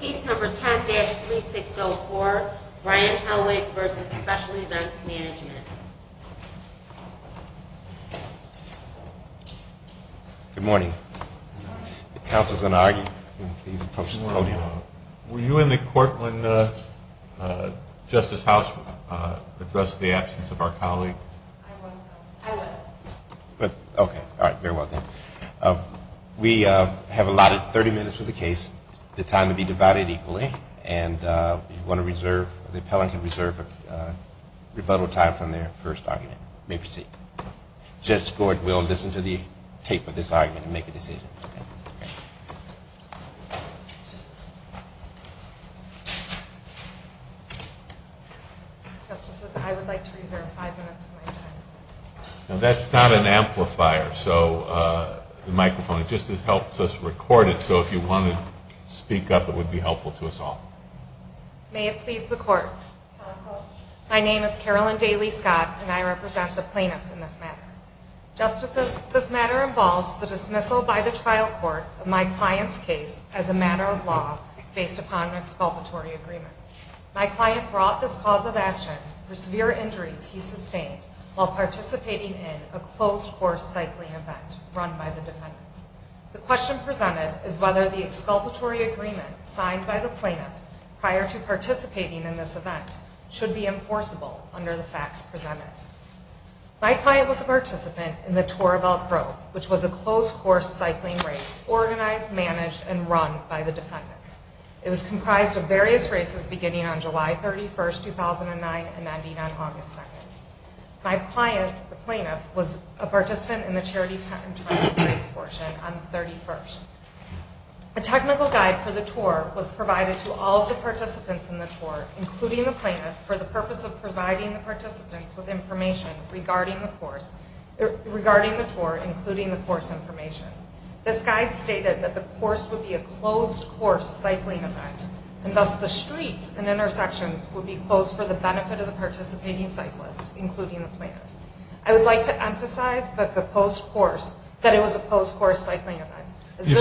Case number 10-3604, Ryan Helweg v. Special Events Management Good morning. The counsel is going to argue. Were you in the court when Justice House addressed the absence of our colleague? I was not. I was. We have allotted 30 minutes for the case. The time will be divided equally. And you want to reserve, the appellant can reserve a rebuttal time from their first argument. You may proceed. Judge Gord will listen to the tape of this argument and make a decision. Justices, I would like to reserve five minutes of my time. Now that's not an amplifier, so the microphone, it just helps us record it so if you want to speak up it would be helpful to us all. May it please the court. Counsel, my name is Carolyn Daly Scott and I represent the plaintiffs in this matter. Justices, this matter involves the dismissal by the trial court of my client's case as a matter of law based upon an exculpatory agreement. My client brought this cause of action for severe injuries he sustained while participating in a closed course cycling event run by the defendants. The question presented is whether the exculpatory agreement signed by the plaintiff prior to participating in this event should be enforceable under the facts presented. My client was a participant in the Tour of Elk Grove, which was a closed course cycling race organized, managed, and run by the defendants. It was comprised of various races beginning on July 31st, 2009 and ending on August 2nd. My client, the plaintiff, was a participant in the charity tent and travel race portion on the 31st. A technical guide for the tour was provided to all of the participants in the tour, including the plaintiff, for the purpose of providing the participants with information regarding the tour, including the course information. This guide stated that the course would be a closed course cycling event, and thus the streets and intersections would be closed for the benefit of the participating cyclists, including the plaintiff. I would like to emphasize that it was a closed course cycling event.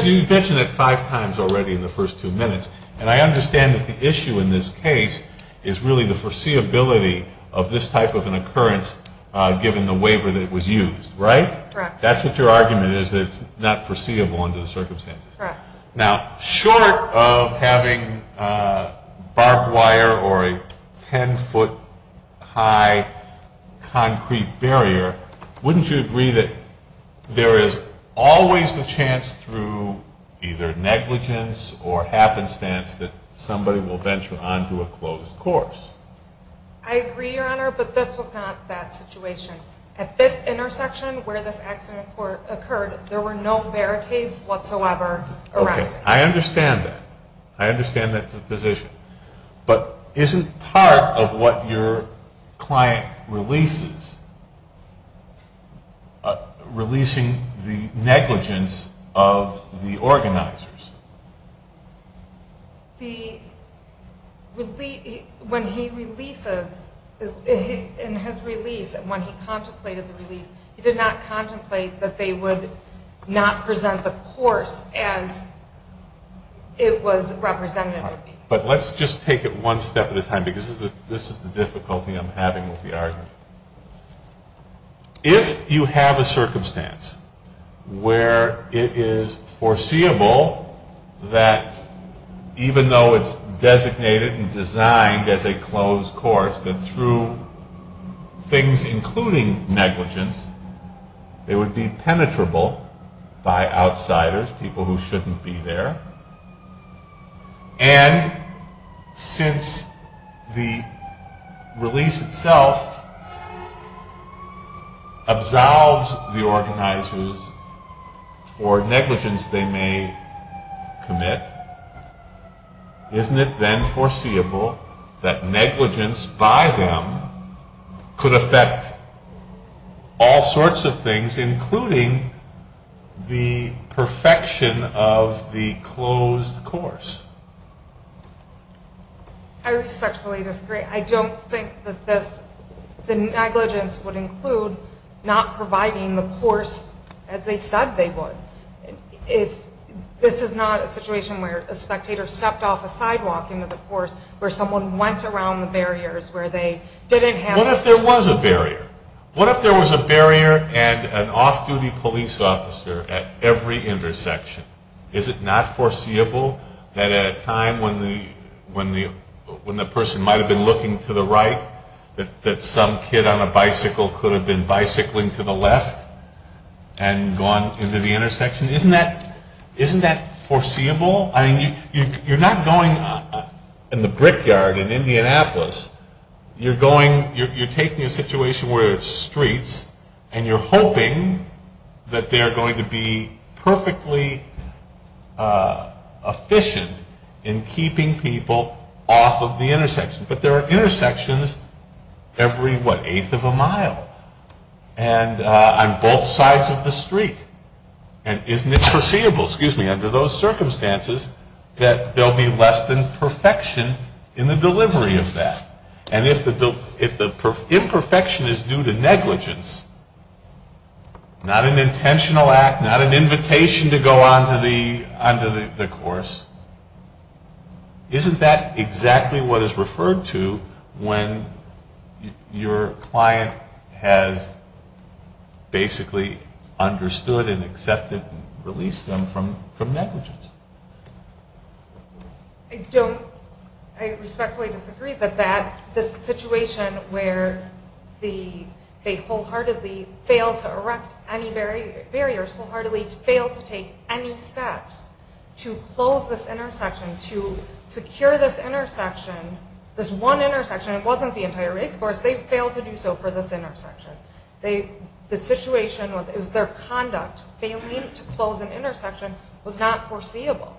You've mentioned it five times already in the first two minutes, and I understand that the issue in this case is really the foreseeability of this type of an occurrence given the waiver that was used, right? Correct. That's what your argument is, that it's not foreseeable under the circumstances. Correct. Now, short of having barbed wire or a 10-foot-high concrete barrier, wouldn't you agree that there is always the chance through either negligence or happenstance that somebody will venture onto a closed course? I agree, Your Honor, but this was not that situation. At this intersection where this accident occurred, there were no barricades whatsoever around. Okay, I understand that. I understand that position. But isn't part of what your client releases releasing the negligence of the organizers? When he releases, in his release, when he contemplated the release, he did not contemplate that they would not present the course as it was represented. But let's just take it one step at a time, because this is the difficulty I'm having with the argument. If you have a circumstance where it is foreseeable that even though it's designated and designed as a closed course, that through things including negligence, it would be penetrable by outsiders, people who shouldn't be there, and since the release itself absolves the organizers for negligence they may commit, isn't it then foreseeable that negligence by them could affect all sorts of things, including the perfection of the closed course? I respectfully disagree. I don't think that the negligence would include not providing the course as they said they would. This is not a situation where a spectator stepped off a sidewalk into the course, where someone went around the barriers, where they didn't have... What if there was a barrier? What if there was a barrier and an off-duty police officer at every intersection? Is it not foreseeable that at a time when the person might have been looking to the right, that some kid on a bicycle could have been bicycling to the left and gone into the intersection? Isn't that foreseeable? You're not going in the brickyard in Indianapolis. You're taking a situation where it's streets, and you're hoping that they're going to be perfectly efficient in keeping people off of the intersection, but there are intersections every, what, eighth of a mile on both sides of the street, and isn't it foreseeable, excuse me, under those circumstances, that there will be less than perfection in the delivery of that? And if the imperfection is due to negligence, not an intentional act, not an invitation to go onto the course, isn't that exactly what is referred to when your client has basically understood and accepted and released them from negligence? I respectfully disagree that this situation where they wholeheartedly fail to erect any barriers, wholeheartedly fail to take any steps to close this intersection, to secure this intersection, this one intersection, it wasn't the entire race course, they failed to do so for this intersection. The situation was, it was their conduct, failing to close an intersection, was not foreseeable.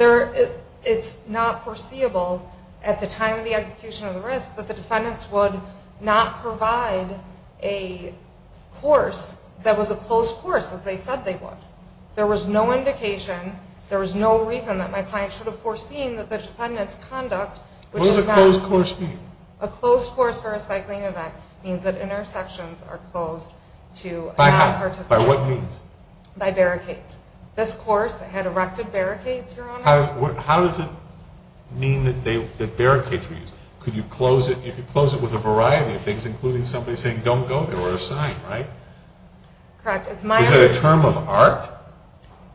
It's not foreseeable at the time of the execution of the risk that the defendants would not provide a course that was a closed course, as they said they would. There was no indication, there was no reason that my client should have foreseen that the defendant's conduct, which is not... What does a closed course mean? A closed course for a cycling event means that intersections are closed to non-participants. By how? By what means? By barricades. This course had erected barricades, Your Honor. How does it mean that barricades were used? Could you close it, you could close it with a variety of things, including somebody saying don't go there, or a sign, right? Correct. Is that a term of art?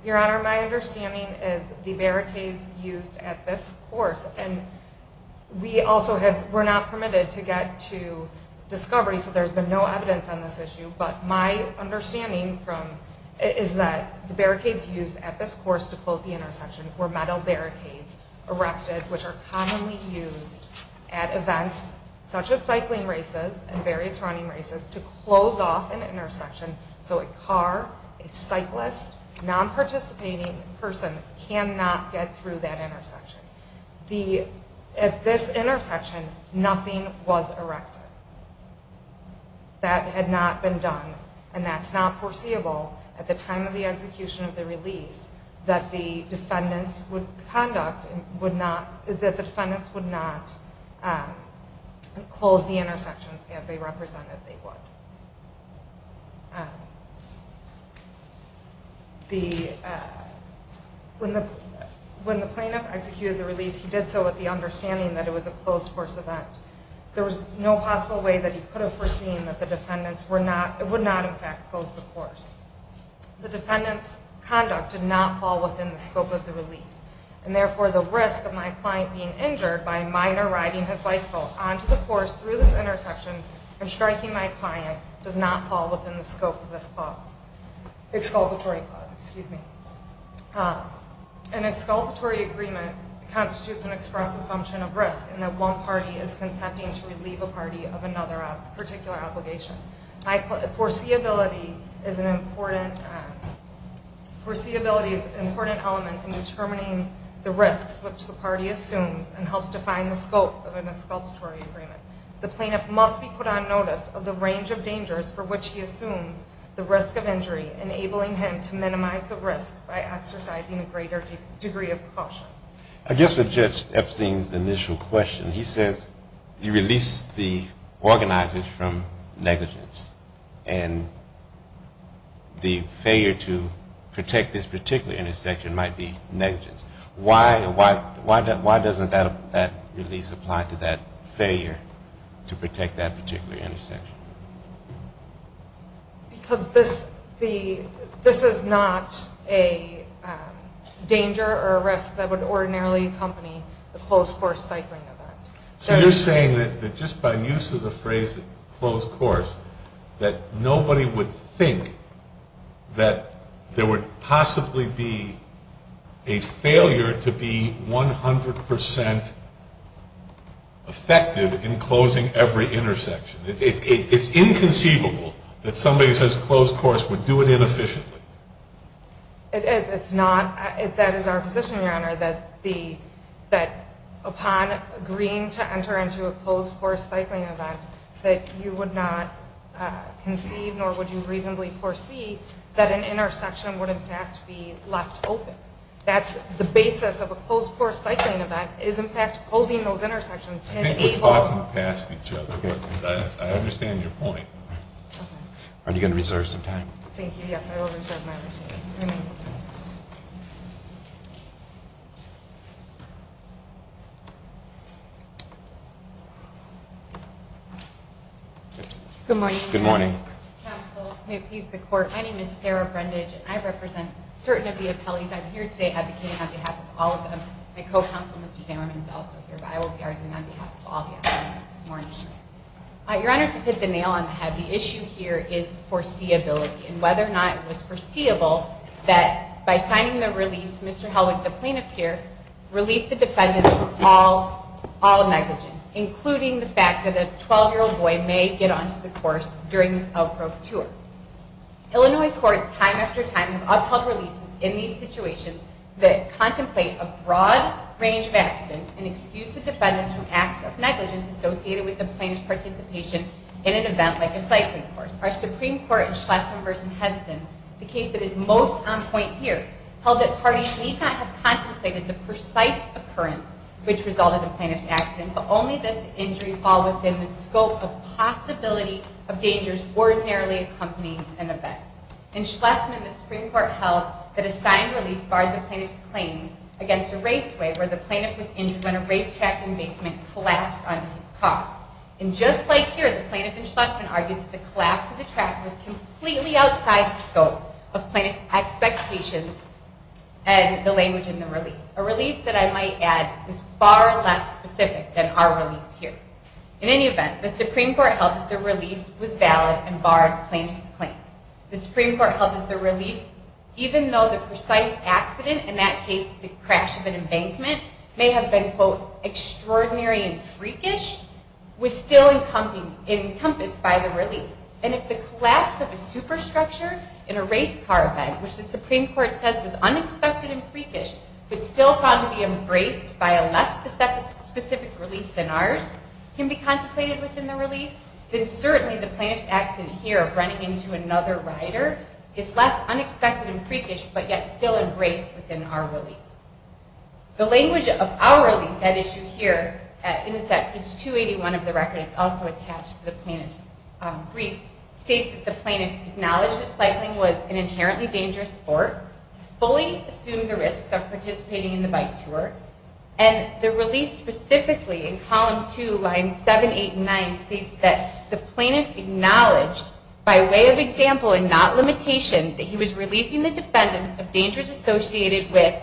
Your Honor, my understanding is the barricades used at this course, and we also were not permitted to get to discovery, so there's been no evidence on this issue, but my understanding is that the barricades used at this course to close the intersection were metal barricades erected, which are commonly used at events such as cycling races and various running races to close off an intersection so a car, a cyclist, a non-participating person cannot get through that intersection. At this intersection, nothing was erected. That had not been done, and that's not foreseeable at the time of the execution of the release that the defendants would conduct, that the defendants would not close the intersections as they represented they would. When the plaintiff executed the release, he did so with the understanding that it was a closed course event. There was no possible way that he could have foreseen that the defendants would not, in fact, close the course. The defendants' conduct did not fall within the scope of the release, and therefore the risk of my client being injured by a minor riding his bicycle onto the course through this intersection and striking my client does not fall within the scope of this clause, exculpatory clause, excuse me. An exculpatory agreement constitutes an express assumption of risk in that one party is consenting to relieve a party of another particular obligation. Foreseeability is an important element in determining the risks which the party assumes and helps define the scope of an exculpatory agreement. The plaintiff must be put on notice of the range of dangers for which he assumes the risk of injury, enabling him to minimize the risks by exercising a greater degree of caution. I guess with Judge Epstein's initial question, he says he released the organizers from negligence, and the failure to protect this particular intersection might be negligence. Why doesn't that release apply to that failure to protect that particular intersection? Because this is not a danger or a risk that would ordinarily accompany a closed course cycling event. So you're saying that just by use of the phrase closed course, that nobody would think that there would possibly be a failure to be 100 percent effective in closing every intersection. It's inconceivable that somebody who says closed course would do it inefficiently. It is. It's not. That is our position, Your Honor, that upon agreeing to enter into a closed course cycling event, that you would not conceive nor would you reasonably foresee that an intersection would in fact be left open. That's the basis of a closed course cycling event is in fact closing those intersections. I think we're talking past each other, but I understand your point. Are you going to reserve some time? Thank you. Yes, I will reserve my remaining time. Good morning. Good morning. Counsel, may it please the Court, my name is Sarah Brendage, and I represent certain of the appellees. I'm here today advocating on behalf of all of them. My co-counsel, Mr. Zammerman, is also here, but I will be arguing on behalf of all the appellees this morning. Your Honor, to hit the nail on the head, the issue here is foreseeability and whether or not it was foreseeable that by signing the release, Mr. Helwig, the plaintiff here, released the defendant from all negligence, including the fact that a 12-year-old boy may get onto the course during this outgrowth tour. Illinois courts time after time have upheld releases in these situations that contemplate a broad range of accidents and excuse the defendant from acts of negligence associated with the plaintiff's participation in an event like a cycling course. Our Supreme Court in Schlesinger v. Henson, the case that is most on point here, held that parties need not have contemplated the precise occurrence which resulted in the plaintiff's accident, but only that the injury fall within the scope of possibility of dangers ordinarily accompanying an event. In Schlesinger, the Supreme Court held that a signed release barred the plaintiff's claim against a raceway where the plaintiff was injured when a racetrack embasement collapsed onto his car. And just like here, the plaintiff in Schlesinger argued that the collapse of the track was completely outside the scope of plaintiff's expectations and the language in the release. A release that I might add is far less specific than our release here. In any event, the Supreme Court held that the release was valid and barred plaintiff's claims. The Supreme Court held that the release, even though the precise accident, in that case the crash of an embankment, may have been, quote, extraordinary and freakish, was still encompassed by the release. And if the collapse of a superstructure in a race car event, which the Supreme Court says was unexpected and freakish, but still found to be embraced by a less specific release than ours, can be contemplated within the release, then certainly the plaintiff's accident here of running into another rider is less unexpected and freakish, but yet still embraced within our release. The language of our release, that issue here, and it's at page 281 of the record, it's also attached to the plaintiff's brief, states that the plaintiff acknowledged that cycling was an inherently dangerous sport, fully assumed the risks of participating in the bike tour, and the release specifically in column 2, lines 7, 8, and 9, states that the plaintiff acknowledged, by way of example and not limitation, that he was releasing the defendants of dangers associated with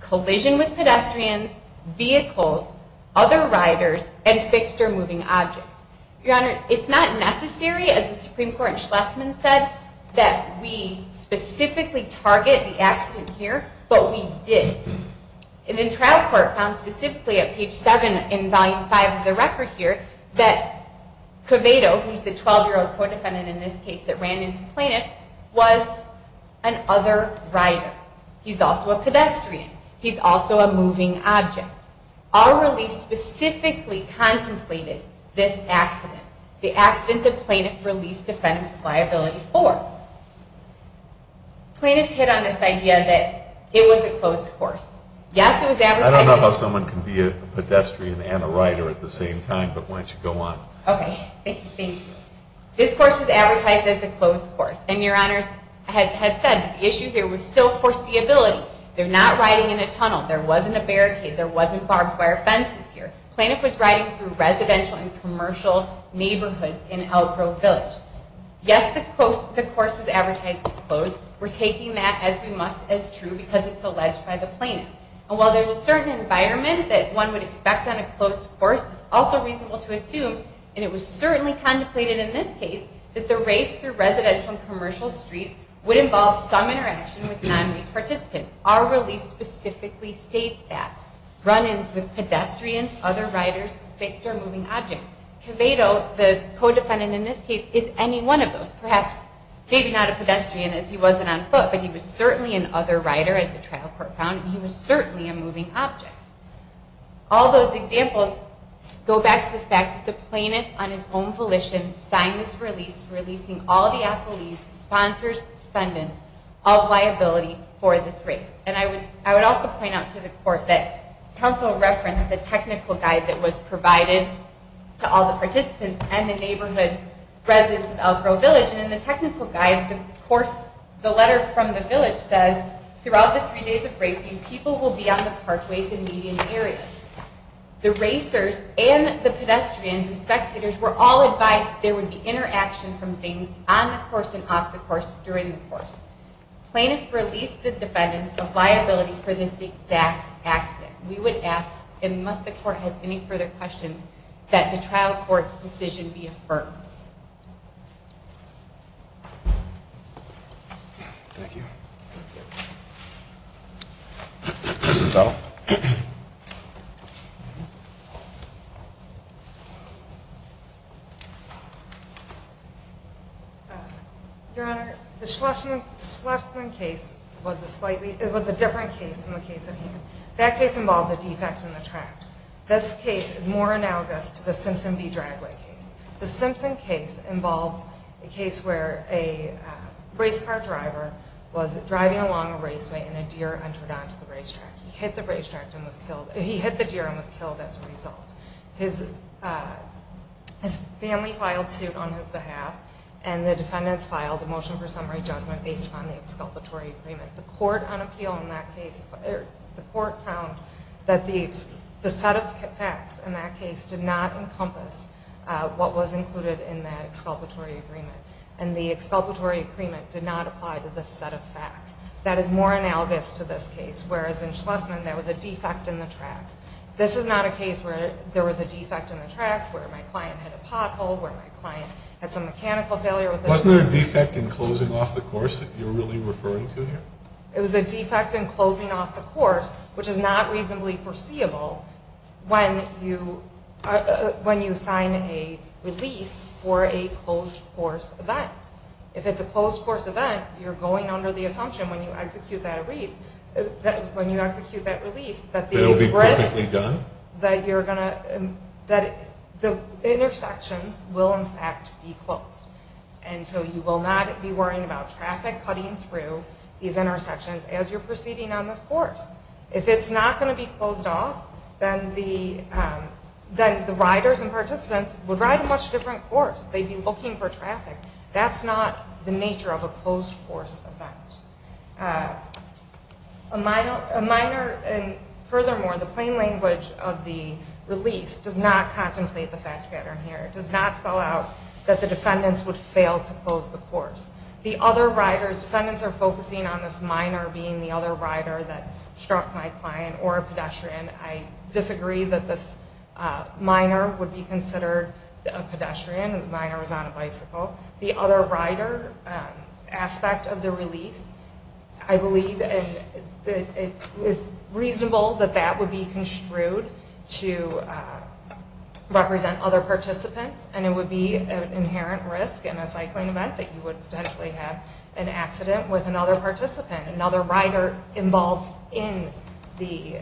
collision with pedestrians, vehicles, other riders, and fixed or moving objects. Your Honor, it's not necessary, as the Supreme Court and Schlesman said, that we specifically target the accident here, but we did. And the trial court found specifically at page 7 in volume 5 of the record here that Covado, who's the 12-year-old co-defendant in this case that ran into the plaintiff, was an other rider. He's also a pedestrian. He's also a moving object. Our release specifically contemplated this accident, the accident the plaintiff released defendants' liability for. The plaintiff hit on this idea that it was a closed course. Yes, it was advertised as a closed course. I don't know how someone can be a pedestrian and a rider at the same time, but why don't you go on. Okay. Thank you. This course was advertised as a closed course, and Your Honors had said the issue here was still foreseeability. They're not riding in a tunnel. There wasn't a barricade. There wasn't barbed wire fences here. The plaintiff was riding through residential and commercial neighborhoods in Elk Grove Village. Yes, the course was advertised as closed. We're taking that as we must, as true, because it's alleged by the plaintiff. And while there's a certain environment that one would expect on a closed course, it's also reasonable to assume, and it was certainly contemplated in this case, that the race through residential and commercial streets would involve some interaction with non-race participants. Our release specifically states that. Run-ins with pedestrians, other riders, fixed or moving objects. Quevedo, the co-defendant in this case, is any one of those. Perhaps maybe not a pedestrian, as he wasn't on foot, but he was certainly an other rider, as the trial court found, and he was certainly a moving object. All those examples go back to the fact that the plaintiff, on his own volition, signed this release, releasing all the accolades, sponsors, defendants, of liability for this race. And I would also point out to the court that counsel referenced the technical guide that was provided to all the participants and the neighborhood residents of Elk Grove Village. And in the technical guide, the course, the letter from the village says, throughout the three days of racing, people will be on the parkways and median areas. The racers and the pedestrians and spectators were all advised that there would be interaction from things on the course and off the course during the course. Plaintiffs released the defendants of liability for this exact accident. We would ask, and must the court have any further questions, that the trial court's decision be affirmed. Thank you. Thank you. Your Honor, the Schlesing case was a different case than the case at hand. That case involved a defect in the track. This case is more analogous to the Simpson v. Dragway case. The Simpson case involved a case where a race car driver was driving along a raceway and a deer entered onto the racetrack. He hit the deer and was killed as a result. His family filed suit on his behalf, and the defendants filed a motion for summary judgment based on the exculpatory agreement. The court on appeal in that case, the court found that the set of facts in that case did not encompass what was included in that exculpatory agreement, and the exculpatory agreement did not apply to this set of facts. That is more analogous to this case, whereas in Schlesing, there was a defect in the track. This is not a case where there was a defect in the track, where my client had a pothole, where my client had some mechanical failure. Wasn't there a defect in closing off the course that you're really referring to here? It was a defect in closing off the course, which is not reasonably foreseeable when you sign a release for a closed course event. If it's a closed course event, you're going under the assumption when you execute that release that the intersections will, in fact, be closed. And so you will not be worrying about traffic cutting through these intersections as you're proceeding on this course. If it's not going to be closed off, then the riders and participants would ride a much different course. They'd be looking for traffic. That's not the nature of a closed course event. Furthermore, the plain language of the release does not contemplate the fact pattern here. It does not spell out that the defendants would fail to close the course. The other riders, defendants are focusing on this minor being the other rider that struck my client or a pedestrian. I disagree that this minor would be considered a pedestrian. The minor was on a bicycle. The other rider aspect of the release, I believe it is reasonable that that would be construed to represent other participants, and it would be an inherent risk in a cycling event that you would potentially have an accident with another participant, another rider involved in the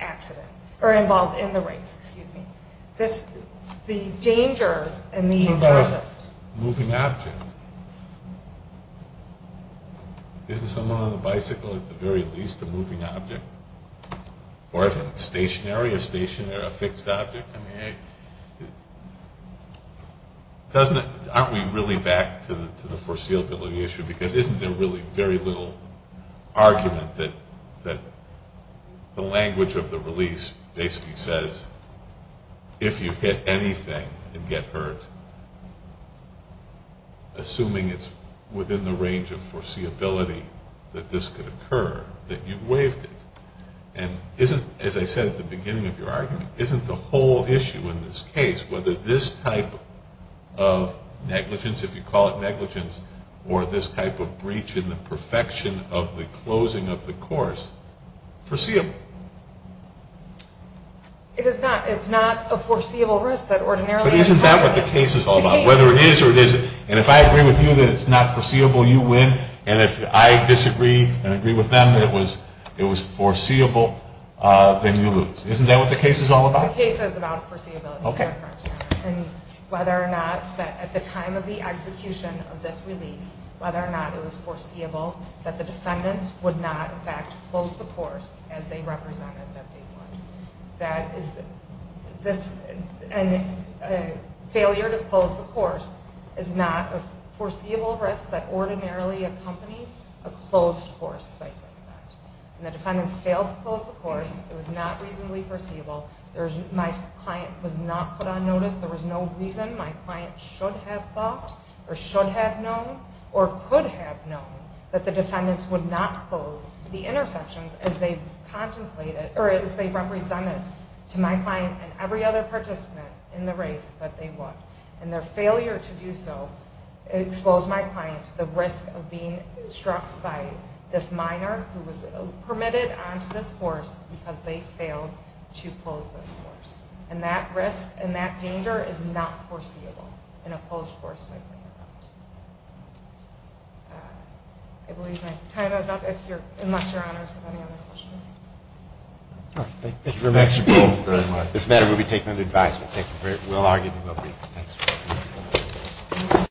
accident, or involved in the race, excuse me. The danger in the project. What about a moving object? Isn't someone on a bicycle at the very least a moving object? Or is it stationary, a stationary, a fixed object? I mean, aren't we really back to the foreseeability issue? Because isn't there really very little argument that the language of the release basically says if you hit anything and get hurt, assuming it's within the range of foreseeability that this could occur, that you've waived it? And isn't, as I said at the beginning of your argument, isn't the whole issue in this case, whether this type of negligence, if you call it negligence, or this type of breach in the perfection of the closing of the course, foreseeable? It is not. It's not a foreseeable risk. But isn't that what the case is all about? Whether it is or it isn't. And if I agree with you that it's not foreseeable, you win. And if I disagree and agree with them that it was foreseeable, then you lose. Isn't that what the case is all about? The case is about foreseeability. Okay. And whether or not at the time of the execution of this release, whether or not it was foreseeable that the defendants would not, in fact, close the course as they represented that they would. And failure to close the course is not a foreseeable risk, unless that ordinarily accompanies a closed course. And the defendants failed to close the course. It was not reasonably foreseeable. My client was not put on notice. There was no reason my client should have thought or should have known or could have known that the defendants would not close the intersections as they represented to my client and every other participant in the race that they would. And their failure to do so exposed my client to the risk of being struck by this minor who was permitted onto this course because they failed to close this course. And that risk and that danger is not foreseeable in a closed course. I believe my time is up, unless Your Honors have any other questions. Thank you very much. This matter will be taken under advisement. Thank you very much. We'll argue and we'll leave. Thanks.